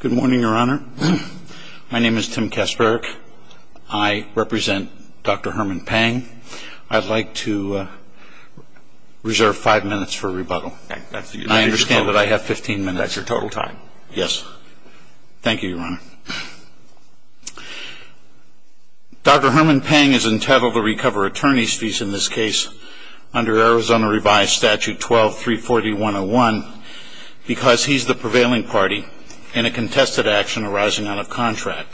Good morning, Your Honor. My name is Tim Kasperick. I represent Dr. Herman Pang. I'd like to reserve five minutes for rebuttal. I understand that I have 15 minutes. That's your total time. Yes. Thank you, Your Honor. Dr. Herman Pang is entitled to recover attorney's fees in this case under Arizona Revised Statute 12-340-101 because he's the prevailing party in a contested action arising out of contract.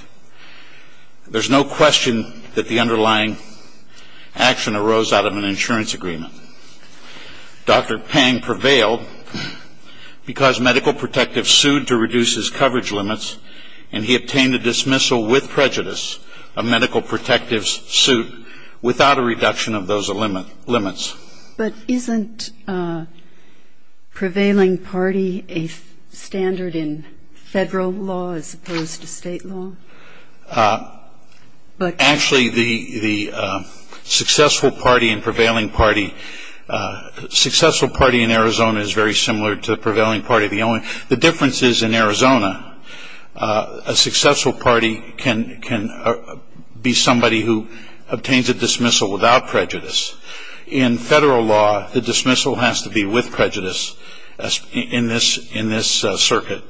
There's no question that the underlying action arose out of an insurance agreement. Dr. Pang prevailed because medical protectives sued to reduce his coverage limits, and he obtained a dismissal with prejudice of medical protectives' suit without a reduction of those limits. But isn't prevailing party a standard in federal law as opposed to state law? Actually, the successful party and prevailing party, successful party in Arizona is very similar to prevailing party. The difference is in Arizona, a successful party can be somebody who obtains a dismissal without prejudice. In federal law, the dismissal has to be with prejudice in this circuit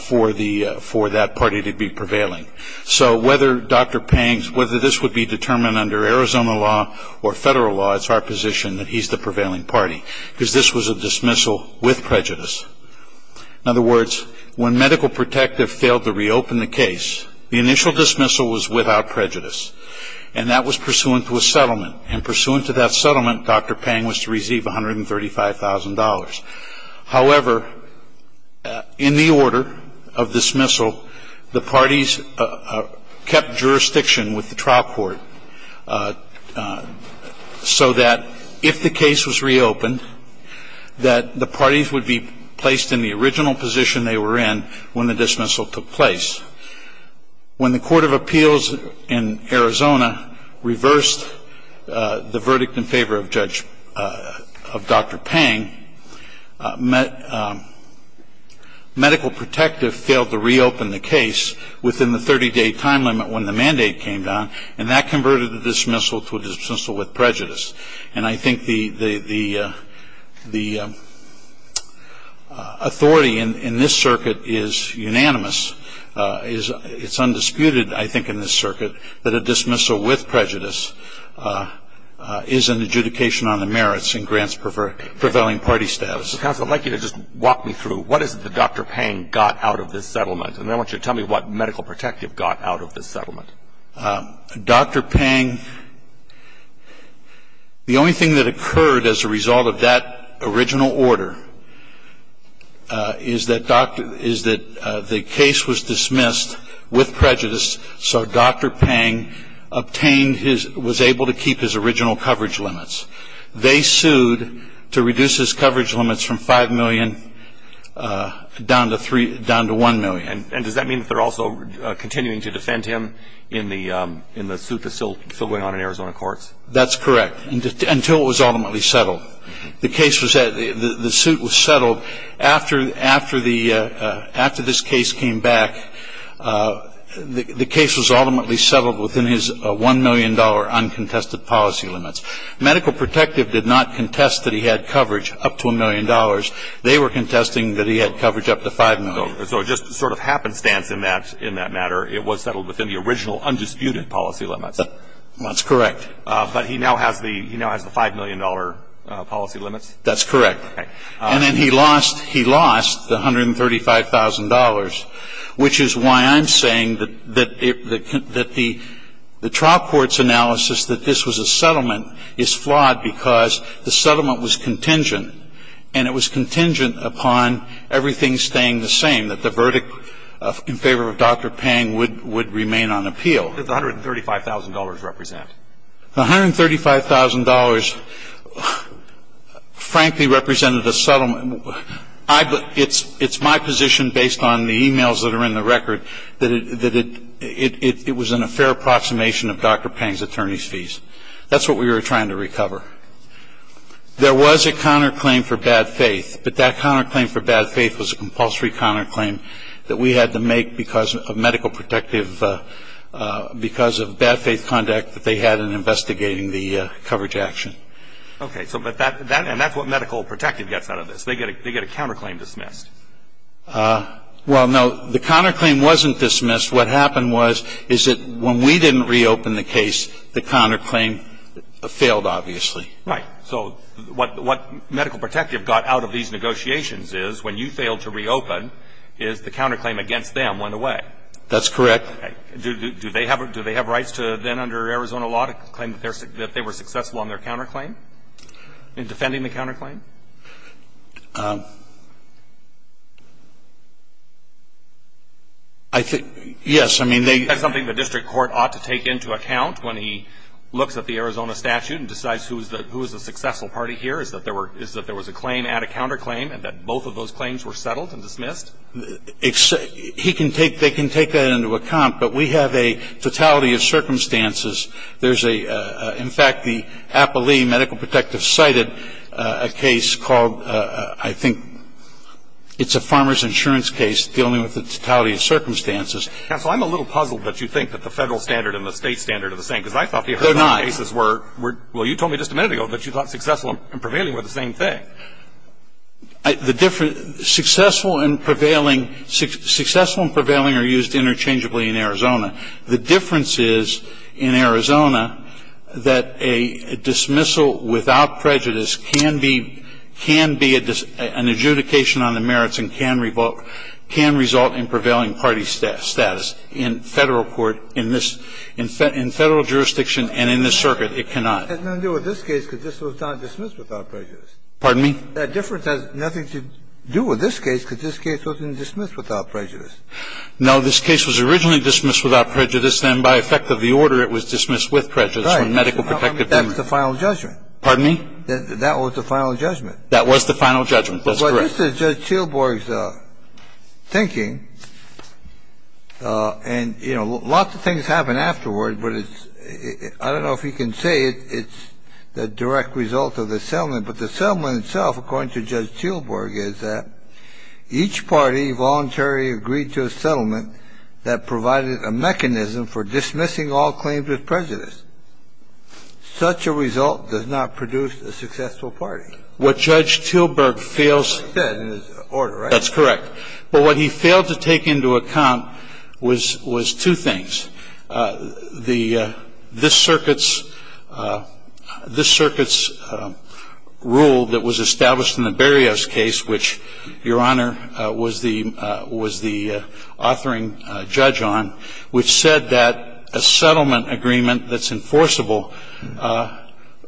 for that party to be prevailing. So whether this would be determined under Arizona law or federal law, it's our position that he's the prevailing party because this was a dismissal with prejudice. In other words, when medical protective failed to reopen the case, the initial dismissal was without prejudice, and that was pursuant to a settlement. And pursuant to that settlement, Dr. Pang was to receive $135,000. However, in the order of dismissal, the parties kept jurisdiction with the trial court so that if the case was reopened, that the parties would be placed in the original position they were in when the dismissal took place. When the Court of Appeals in Arizona reversed the verdict in favor of Judge Dr. Pang, medical protective failed to reopen the case within the 30-day time limit when the mandate came down, and that converted the dismissal to a dismissal with prejudice. And I think the authority in this circuit is unanimous. It's undisputed, I think, in this circuit that a dismissal with prejudice is an adjudication on the merits and grants prevailing party status. Counsel, I'd like you to just walk me through. What is it that Dr. Pang got out of this settlement? And then I want you to tell me what medical protective got out of this settlement. Dr. Pang, the only thing that occurred as a result of that original order is that the case was dismissed with prejudice so Dr. Pang was able to keep his original coverage limits. They sued to reduce his coverage limits from 5 million down to 1 million. And does that mean that they're also continuing to defend him in the suit that's still going on in Arizona courts? That's correct, until it was ultimately settled. The suit was settled after this case came back. The case was ultimately settled within his $1 million uncontested policy limits. Medical protective did not contest that he had coverage up to $1 million. They were contesting that he had coverage up to 5 million. So just sort of happenstance in that matter, it was settled within the original undisputed policy limits. That's correct. But he now has the $5 million policy limits? That's correct. And then he lost the $135,000, which is why I'm saying that the trial court's analysis that this was a settlement is flawed because the settlement was contingent upon everything staying the same, that the verdict in favor of Dr. Pang would remain on appeal. What did the $135,000 represent? The $135,000 frankly represented a settlement. It's my position based on the e-mails that are in the record that it was in a fair approximation of Dr. Pang's attorney's fees. That's what we were trying to recover. There was a counterclaim for bad faith, but that counterclaim for bad faith was a compulsory counterclaim that we had to make because of medical protective because of bad faith conduct that they had in investigating the coverage action. Okay. So but that's what medical protective gets out of this. They get a counterclaim dismissed. Well, no. The counterclaim wasn't dismissed. What happened was is that when we didn't reopen the case, the counterclaim failed obviously. Right. So what medical protective got out of these negotiations is when you failed to reopen is the counterclaim against them went away. That's correct. Okay. Do they have rights to then under Arizona law to claim that they were successful on their counterclaim in defending the counterclaim? I think yes. I mean, they You think that's something the district court ought to take into account when he looks at the Arizona statute and decides who is the successful party here, is that there was a claim at a counterclaim and that both of those claims were settled and dismissed? He can take they can take that into account, but we have a totality of circumstances. There's a, in fact, the APALE medical protective cited a case called, I think, it's a farmer's insurance case dealing with the totality of circumstances. Counsel, I'm a little puzzled that you think that the Federal standard and the State standard are the same, because I thought the Arizona cases were. They're not. Well, you told me just a minute ago that you thought successful and prevailing were the same thing. The difference, successful and prevailing, successful and prevailing are used interchangeably in Arizona. The difference is, in Arizona, that a dismissal without prejudice can be, can be an adjudication on the merits and can result in prevailing party status. In Federal court, in this, in Federal jurisdiction and in this circuit, it cannot. It has nothing to do with this case because this was not dismissed without prejudice. Pardon me? That difference has nothing to do with this case because this case wasn't dismissed without prejudice. No. This case was originally dismissed without prejudice. Then by effect of the order, it was dismissed with prejudice. Right. That's the final judgment. Pardon me? That was the final judgment. That was the final judgment. That's correct. But this is Judge Teelborg's thinking, and, you know, lots of things happen afterward, but it's, I don't know if he can say it's the direct result of the settlement, but the settlement itself, according to Judge Teelborg, is that each party voluntarily agreed to a settlement that provided a mechanism for dismissing all claims with prejudice. Such a result does not produce a successful party. What Judge Teelborg fails to say in his order, right? That's correct. But what he failed to take into account was, was two things. One is that this circuit's rule that was established in the Berryhouse case, which, Your Honor, was the authoring judge on, which said that a settlement agreement that's enforceable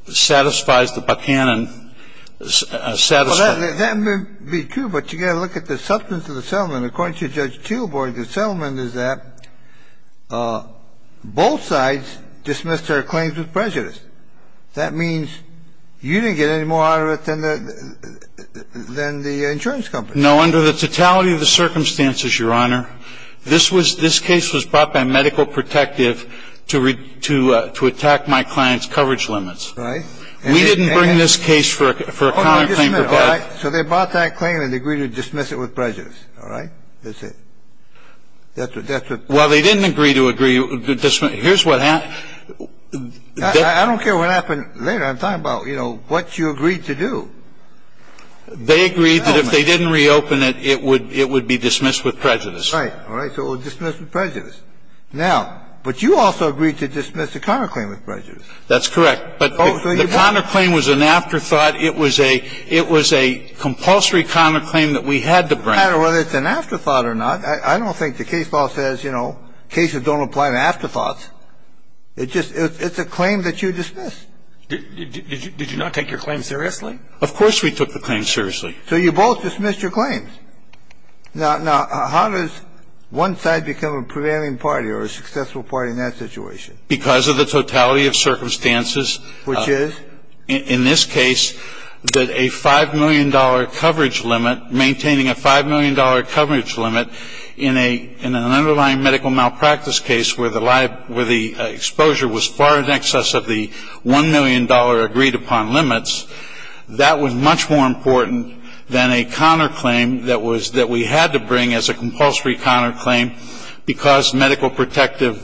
satisfies the Buchanan satisfaction. Well, that may be true, but you've got to look at the substance of the settlement. And according to Judge Teelborg, the settlement is that both sides dismissed their claims with prejudice. That means you didn't get any more out of it than the insurance company. No. Under the totality of the circumstances, Your Honor, this was, this case was brought by Medical Protective to attack my client's coverage limits. Right. We didn't bring this case for a common claim. So they brought that claim and agreed to dismiss it with prejudice. All right. That's it. That's what, that's what. Well, they didn't agree to agree to dismiss. Here's what happened. I don't care what happened later. I'm talking about, you know, what you agreed to do. They agreed that if they didn't reopen it, it would, it would be dismissed with prejudice. Right. All right. So it was dismissed with prejudice. Now, but you also agreed to dismiss the common claim with prejudice. That's correct. But the common claim was an afterthought. It was a, it was a compulsory common claim that we had to bring. It doesn't matter whether it's an afterthought or not. I don't think the case law says, you know, cases don't apply to afterthoughts. It just, it's a claim that you dismiss. Did you not take your claim seriously? Of course we took the claim seriously. So you both dismissed your claims. Now, how does one side become a prevailing party or a successful party in that situation? Because of the totality of circumstances. Which is? In this case, that a $5 million coverage limit, maintaining a $5 million coverage limit, in an underlying medical malpractice case where the exposure was far in excess of the $1 million agreed upon limits, that was much more important than a common claim that we had to bring as a compulsory common claim because medical protective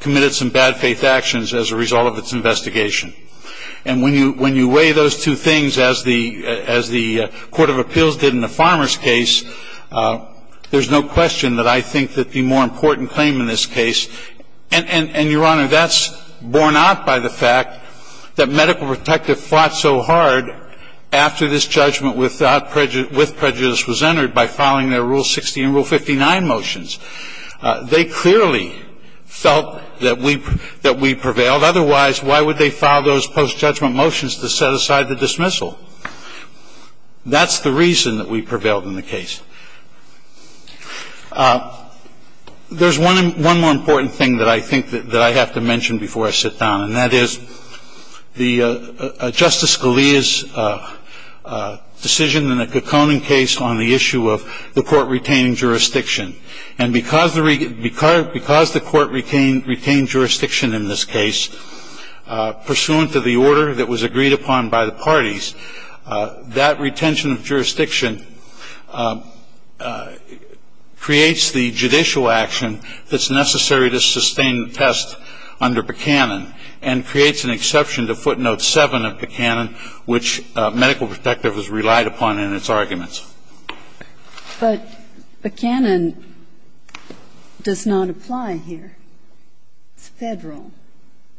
committed some bad faith actions as a result of its investigation. And when you weigh those two things as the court of appeals did in the farmer's case, there's no question that I think that the more important claim in this case, and, Your Honor, that's borne out by the fact that medical protective fought so hard after this judgment with prejudice was entered by filing their Rule 60 and Rule 59 motions. They clearly felt that we prevailed. Otherwise, why would they file those post-judgment motions to set aside the dismissal? That's the reason that we prevailed in the case. There's one more important thing that I think that I have to mention before I sit down, and that is Justice Scalia's decision in the Kekkonen case on the issue of the court retaining jurisdiction. And because the court retained jurisdiction in this case, pursuant to the order that was agreed upon by the parties, that retention of jurisdiction creates the judicial action that's necessary to sustain the test under Pekkonen and creates an exception to footnote 7 of Pekkonen, which medical protective has relied upon in its arguments. But Pekkonen does not apply here. It's Federal,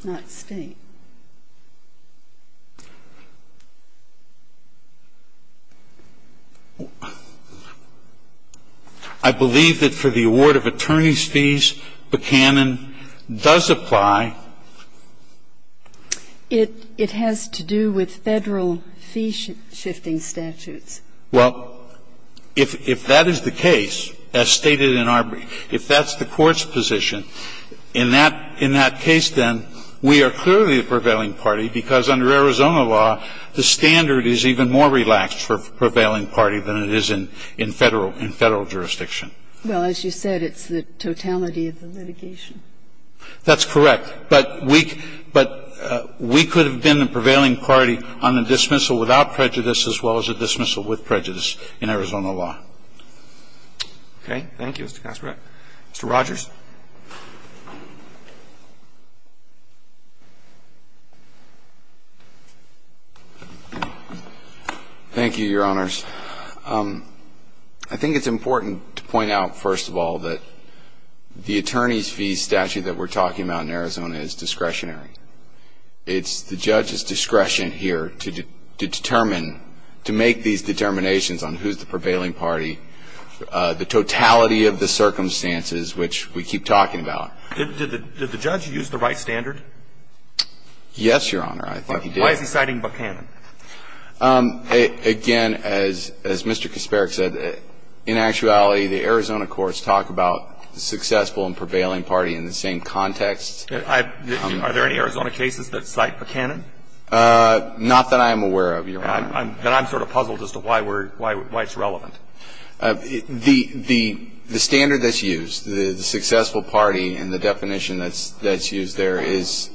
not State. I believe that for the award of attorney's fees, Pekkonen does apply. It has to do with Federal fee-shifting statutes. Well, if that is the case, as stated in our ---- if that's the Court's position, in that case, then, we are clearly the prevailing party, because under Arizona law, the standard is even more relaxed for prevailing party than it is in Federal jurisdiction. Well, as you said, it's the totality of the litigation. That's correct. But we could have been the prevailing party on the dismissal without prejudice as well as a dismissal with prejudice in Arizona law. Okay. Thank you, Mr. Kasparov. Mr. Rogers. Thank you, Your Honors. I think it's important to point out, first of all, that the attorney's fees statute that we're talking about in Arizona is discretionary. It's the judge's discretion here to determine, to make these determinations on who's the prevailing party, the totality of the circumstances, which we keep talking about. Did the judge use the right standard? Yes, Your Honor. I think he did. Why is he citing Pekkonen? Again, as Mr. Kasparov said, in actuality, the Arizona courts talk about the successful and prevailing party in the same context. Are there any Arizona cases that cite Pekkonen? Not that I'm aware of, Your Honor. Then I'm sort of puzzled as to why it's relevant. The standard that's used, the successful party and the definition that's used there is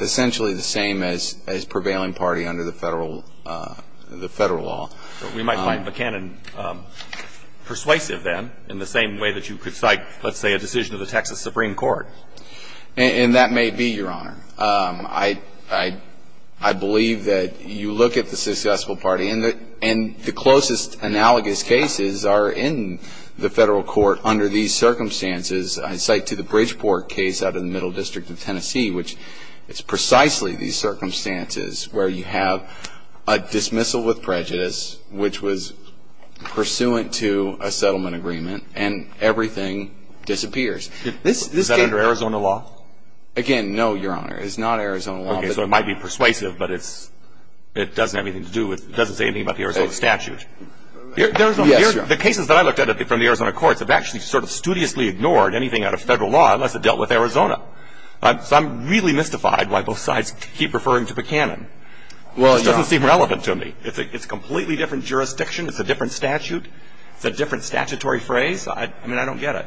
essentially the same as prevailing party under the Federal law. We might find Pekkonen persuasive then in the same way that you could cite, let's say, a decision of the Texas Supreme Court. And that may be, Your Honor. I believe that you look at the successful party, and the closest analogous cases are in the Federal court under these circumstances. I cite to the Bridgeport case out of the Middle District of Tennessee, which is precisely these circumstances where you have a dismissal with prejudice, which was pursuant to a settlement agreement, and everything disappears. Is that under Arizona law? Again, no, Your Honor. It's not Arizona law. Okay. So it might be persuasive, but it doesn't have anything to do with, it doesn't say anything about the Arizona statute. Yes, Your Honor. The cases that I looked at from the Arizona courts have actually sort of studiously ignored anything out of Federal law unless it dealt with Arizona. So I'm really mystified why both sides keep referring to Pekkonen. It just doesn't seem relevant to me. It's a completely different jurisdiction. It's a different statute. It's a different statutory phrase. I mean, I don't get it.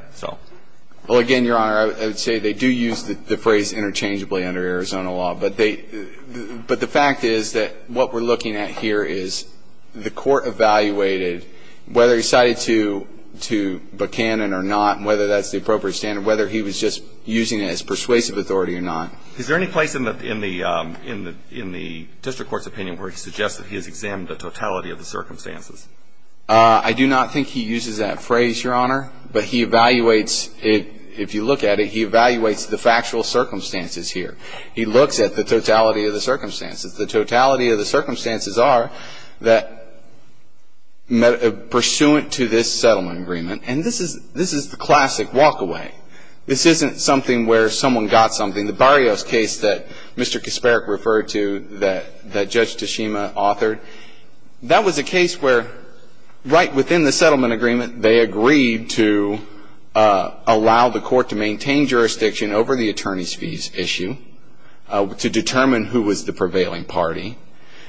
Well, again, Your Honor, I would say they do use the phrase interchangeably under Arizona law. But the fact is that what we're looking at here is the court evaluated whether he cited to Pekkonen or not and whether that's the appropriate standard, whether he was just using it as persuasive authority or not. Is there any place in the district court's opinion where it suggests that he has examined the totality of the circumstances? I do not think he uses that phrase, Your Honor. But he evaluates it. If you look at it, he evaluates the factual circumstances here. He looks at the totality of the circumstances. The totality of the circumstances are that pursuant to this settlement agreement, and this is the classic walk away. This isn't something where someone got something. The Barrios case that Mr. Kasparik referred to that Judge Tashima authored, that was a case where right within the settlement agreement they agreed to allow the court to maintain jurisdiction over the attorney's fees issue to determine who was the prevailing party.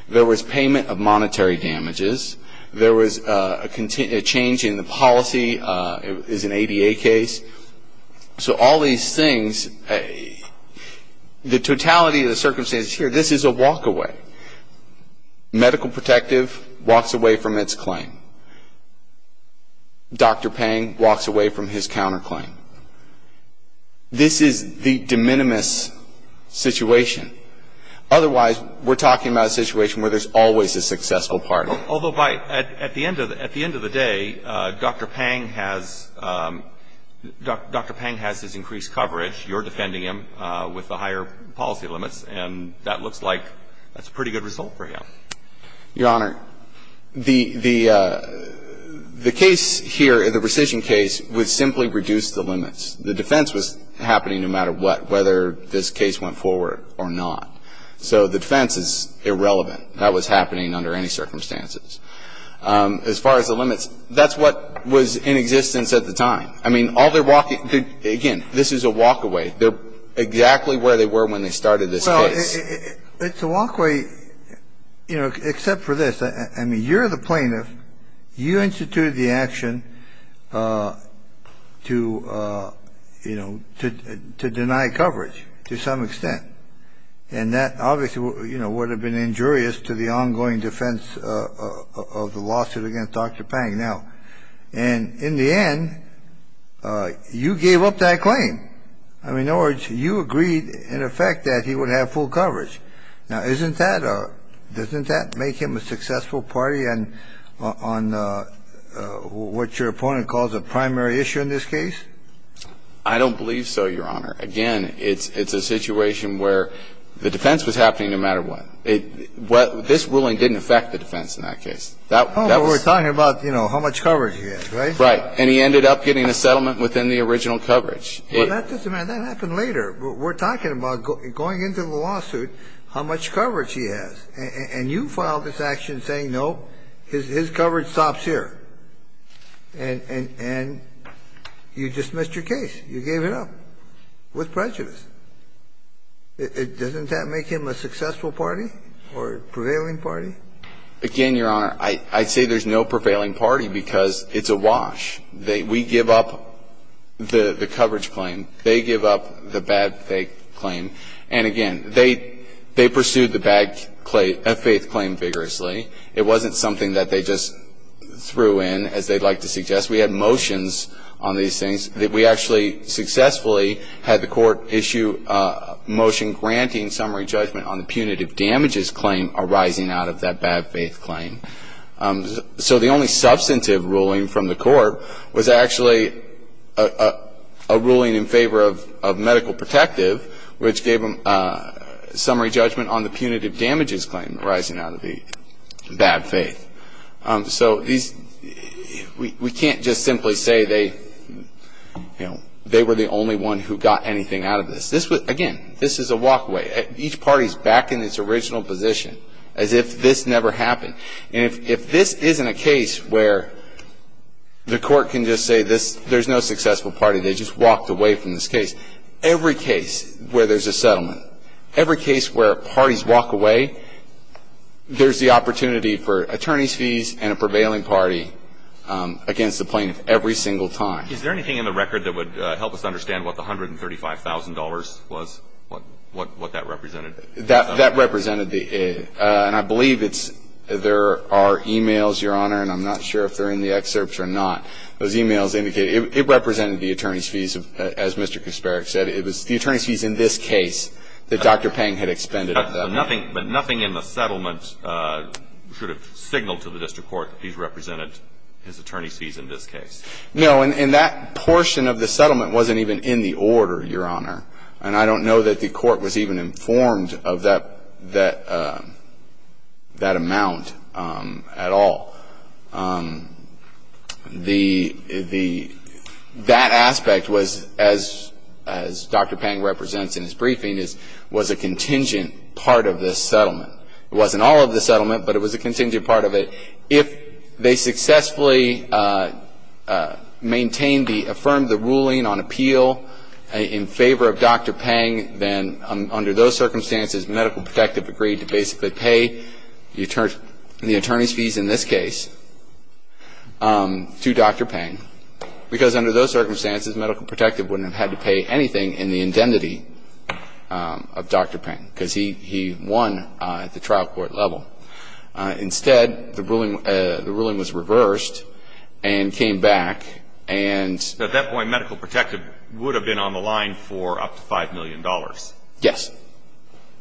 There was payment of monetary damages. There was a change in the policy. It was an ADA case. So all these things, the totality of the circumstances here, this is a walk away. Medical protective walks away from its claim. Dr. Pang walks away from his counterclaim. This is the de minimis situation. Otherwise, we're talking about a situation where there's always a successful party. Although at the end of the day, Dr. Pang has his increased coverage. You're defending him with the higher policy limits. And that looks like that's a pretty good result for him. Your Honor, the case here, the rescission case, would simply reduce the limits. The defense was happening no matter what, whether this case went forward or not. So the defense is irrelevant. That was happening under any circumstances. As far as the limits, that's what was in existence at the time. I mean, all they're walking, again, this is a walk away. They're exactly where they were when they started this case. Well, it's a walk away, you know, except for this. I mean, you're the plaintiff. You instituted the action to, you know, to deny coverage to some extent. And that obviously, you know, would have been injurious to the ongoing defense of the lawsuit against Dr. Pang. Now, and in the end, you gave up that claim. I mean, in other words, you agreed in effect that he would have full coverage. Now, isn't that or doesn't that make him a successful party on what your opponent calls a primary issue in this case? I don't believe so, Your Honor. Again, it's a situation where the defense was happening no matter what. This ruling didn't affect the defense in that case. Oh, but we're talking about, you know, how much coverage he had, right? Right. And he ended up getting a settlement within the original coverage. Well, that doesn't matter. That happened later. We're talking about going into the lawsuit how much coverage he has. And you filed this action saying, no, his coverage stops here. And you dismissed your case. You gave it up with prejudice. Doesn't that make him a successful party or a prevailing party? Again, Your Honor, I'd say there's no prevailing party because it's a wash. We give up the coverage claim. They give up the bad faith claim. And, again, they pursued the bad faith claim vigorously. It wasn't something that they just threw in, as they'd like to suggest. We had motions on these things that we actually successfully had the court issue a motion granting summary judgment on the punitive damages claim arising out of that bad faith claim. So the only substantive ruling from the court was actually a ruling in favor of medical protective, which gave them a summary judgment on the punitive damages claim arising out of the bad faith. So we can't just simply say they were the only one who got anything out of this. Again, this is a walkway. Each party is back in its original position, as if this never happened. And if this isn't a case where the court can just say there's no successful party, they just walked away from this case. Every case where there's a settlement, every case where parties walk away, there's the opportunity for attorney's fees and a prevailing party against the plaintiff every single time. Is there anything in the record that would help us understand what the $135,000 was, what that represented? That represented the – and I believe it's – there are e-mails, Your Honor, and I'm not sure if they're in the excerpts or not. Those e-mails indicate – it represented the attorney's fees, as Mr. Kasparov said. It was the attorney's fees in this case that Dr. Pang had expended at that time. But nothing in the settlement should have signaled to the district court that he's represented his attorney's fees in this case. No, and that portion of the settlement wasn't even in the order, Your Honor. And I don't know that the court was even informed of that amount at all. The – that aspect was, as Dr. Pang represents in his briefing, was a contingent part of this settlement. It wasn't all of the settlement, but it was a contingent part of it. If they successfully maintained the – affirmed the ruling on appeal in favor of Dr. Pang, then under those circumstances, Medical Protective agreed to basically pay the attorney's fees in this case to Dr. Pang. Because under those circumstances, Medical Protective wouldn't have had to pay anything in the indemnity of Dr. Pang, because he won at the trial court level. Instead, the ruling was reversed and came back. And at that point, Medical Protective would have been on the line for up to $5 million. Yes.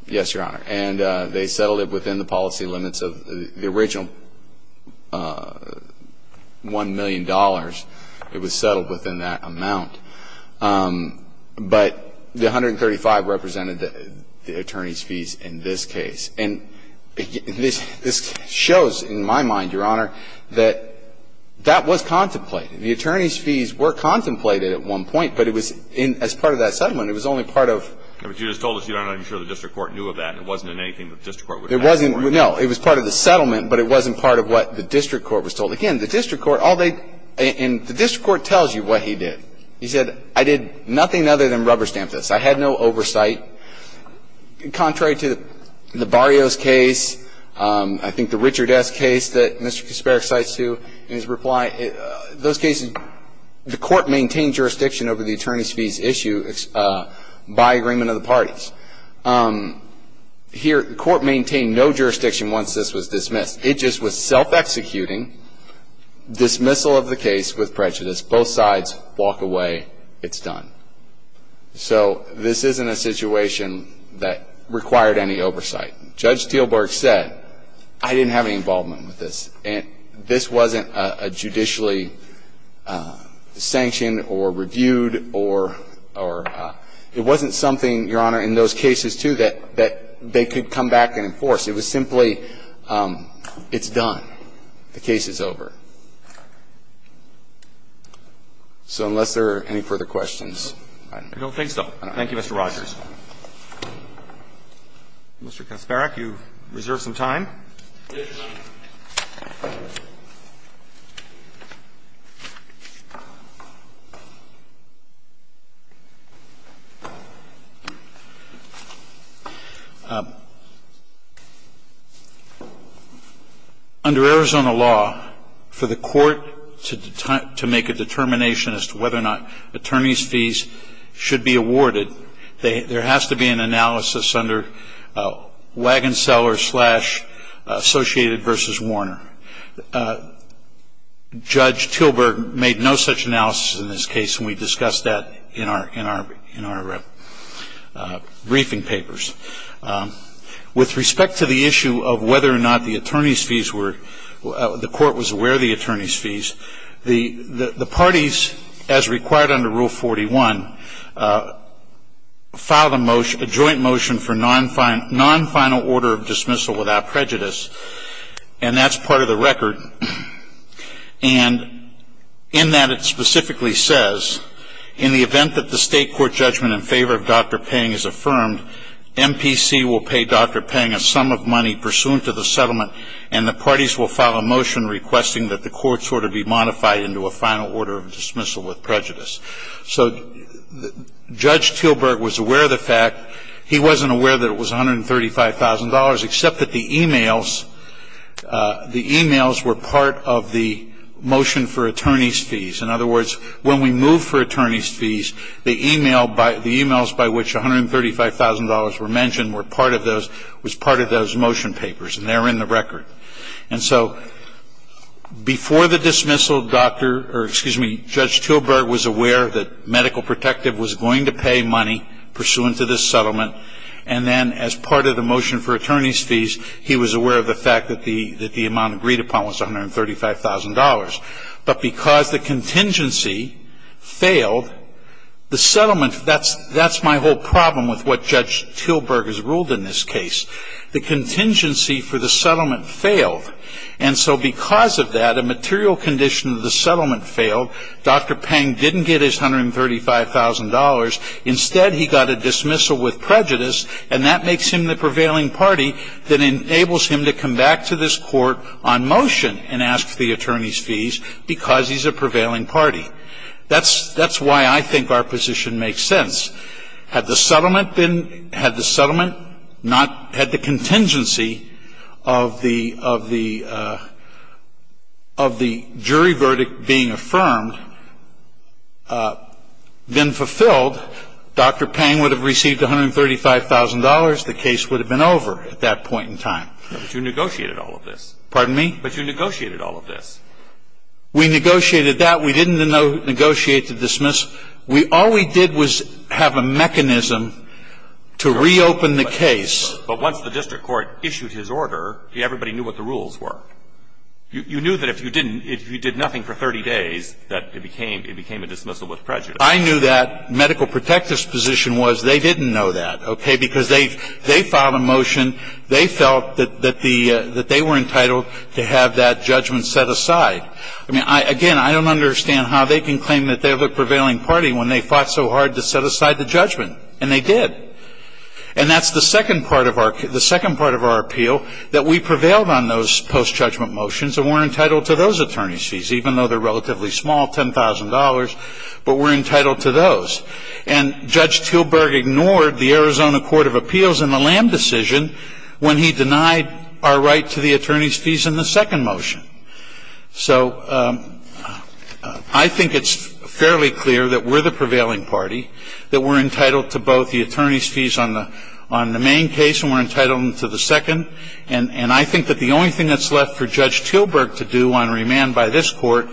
Yes, Your Honor. And they settled it within the policy limits of the original $1 million. It was settled within that amount. But the $135 represented the attorney's fees in this case. And this shows, in my mind, Your Honor, that that was contemplated. The attorney's fees were contemplated at one point, but it was in – as part of that settlement, it was only part of – But you just told us you're not even sure the district court knew of that, and it wasn't in anything that the district court would have known. It wasn't – no. It was part of the settlement, but it wasn't part of what the district court was told. Again, the district court, all they – and the district court tells you what he did. He said, I did nothing other than rubber stamp this. I had no oversight. Contrary to the Barrios case, I think the Richard S. case that Mr. Kacperik cites too in his reply, those cases – the court maintained jurisdiction over the attorney's fees issue by agreement of the parties. Here, the court maintained no jurisdiction once this was dismissed. It just was self-executing dismissal of the case with prejudice. Both sides walk away. It's done. So this isn't a situation that required any oversight. Judge Steelberg said, I didn't have any involvement with this, and this wasn't a judicially sanctioned or reviewed or – it wasn't something, Your Honor, in those cases too that they could come back and enforce. It was simply, it's done. The case is over. So unless there are any further questions, I don't know. I don't think so. Thank you, Mr. Rogers. Mr. Kacperik, you reserve some time. Yes, Your Honor. Under Arizona law, for the court to make a determination as to whether or not attorney's fees should be awarded, there has to be an analysis under Wagon Seller slash Associated v. Warner. Judge Steelberg made no such analysis in this case, and we discussed that in our briefing papers. With respect to the issue of whether or not the attorney's fees were – the court was aware of the attorney's fees, the parties, as required under Rule 41, filed a joint motion for non-final order of dismissal without prejudice, and that's part of the record. And in that, it specifically says, in the event that the state court judgment in favor of Dr. Pang is affirmed, MPC will pay Dr. Pang a sum of money pursuant to the settlement, and the parties will file a motion requesting that the court sort of be modified into a final order of dismissal with prejudice. So Judge Steelberg was aware of the fact. He wasn't aware that it was $135,000, except that the e-mails – the e-mails were part of the motion for attorney's fees. In other words, when we move for attorney's fees, the e-mails by which $135,000 were mentioned were part of those – was part of those motion papers, and they're in the record. And so before the dismissal, Dr. – or excuse me, Judge Steelberg was aware that Medical Protective was going to pay money pursuant to this settlement, and then as part of the motion for attorney's fees, he was aware of the fact that the amount agreed upon was $135,000. But because the contingency failed, the settlement – that's my whole problem with what Judge Steelberg has ruled in this case. The contingency for the settlement failed, And so because of that, a material condition of the settlement failed. Dr. Pang didn't get his $135,000. Instead, he got a dismissal with prejudice, and that makes him the prevailing party that enables him to come back to this court on motion and ask for the attorney's fees because he's a prevailing party. That's – that's why I think our position makes sense. If the settlement had been – had the settlement not – had the contingency of the – of the jury verdict being affirmed been fulfilled, Dr. Pang would have received $135,000, the case would have been over at that point in time. But you negotiated all of this. Pardon me? But you negotiated all of this. We negotiated that. We didn't negotiate the dismiss. We – all we did was have a mechanism to reopen the case. But once the district court issued his order, everybody knew what the rules were. You knew that if you didn't – if you did nothing for 30 days, that it became – it became a dismissal with prejudice. I knew that. Medical protectors' position was they didn't know that, okay, because they filed a motion. They felt that the – that they were entitled to have that judgment set aside. I mean, I – again, I don't understand how they can claim that they have a prevailing party when they fought so hard to set aside the judgment. And they did. And that's the second part of our – the second part of our appeal, that we prevailed on those post-judgment motions and were entitled to those attorney's fees, even though they're relatively small, $10,000, but we're entitled to those. And Judge Tilburg ignored the Arizona Court of Appeals in the Lamb decision when he denied our right to the attorney's fees in the second motion. So I think it's fairly clear that we're the prevailing party, that we're entitled to both the attorney's fees on the – on the main case and we're entitled to the second. And I think that the only thing that's left for Judge Tilburg to do on remand by this Court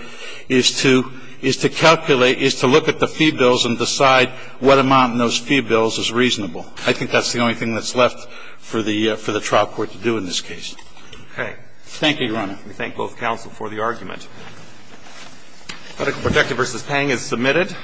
is to – is to calculate – is to look at the fee bills and decide what amount in those fee bills is reasonable. I think that's the only thing that's left for the – for the trial court to do in this case. Okay. Thank you, Your Honor. And we thank both counsel for the argument. Codical Protective v. Pang is submitted.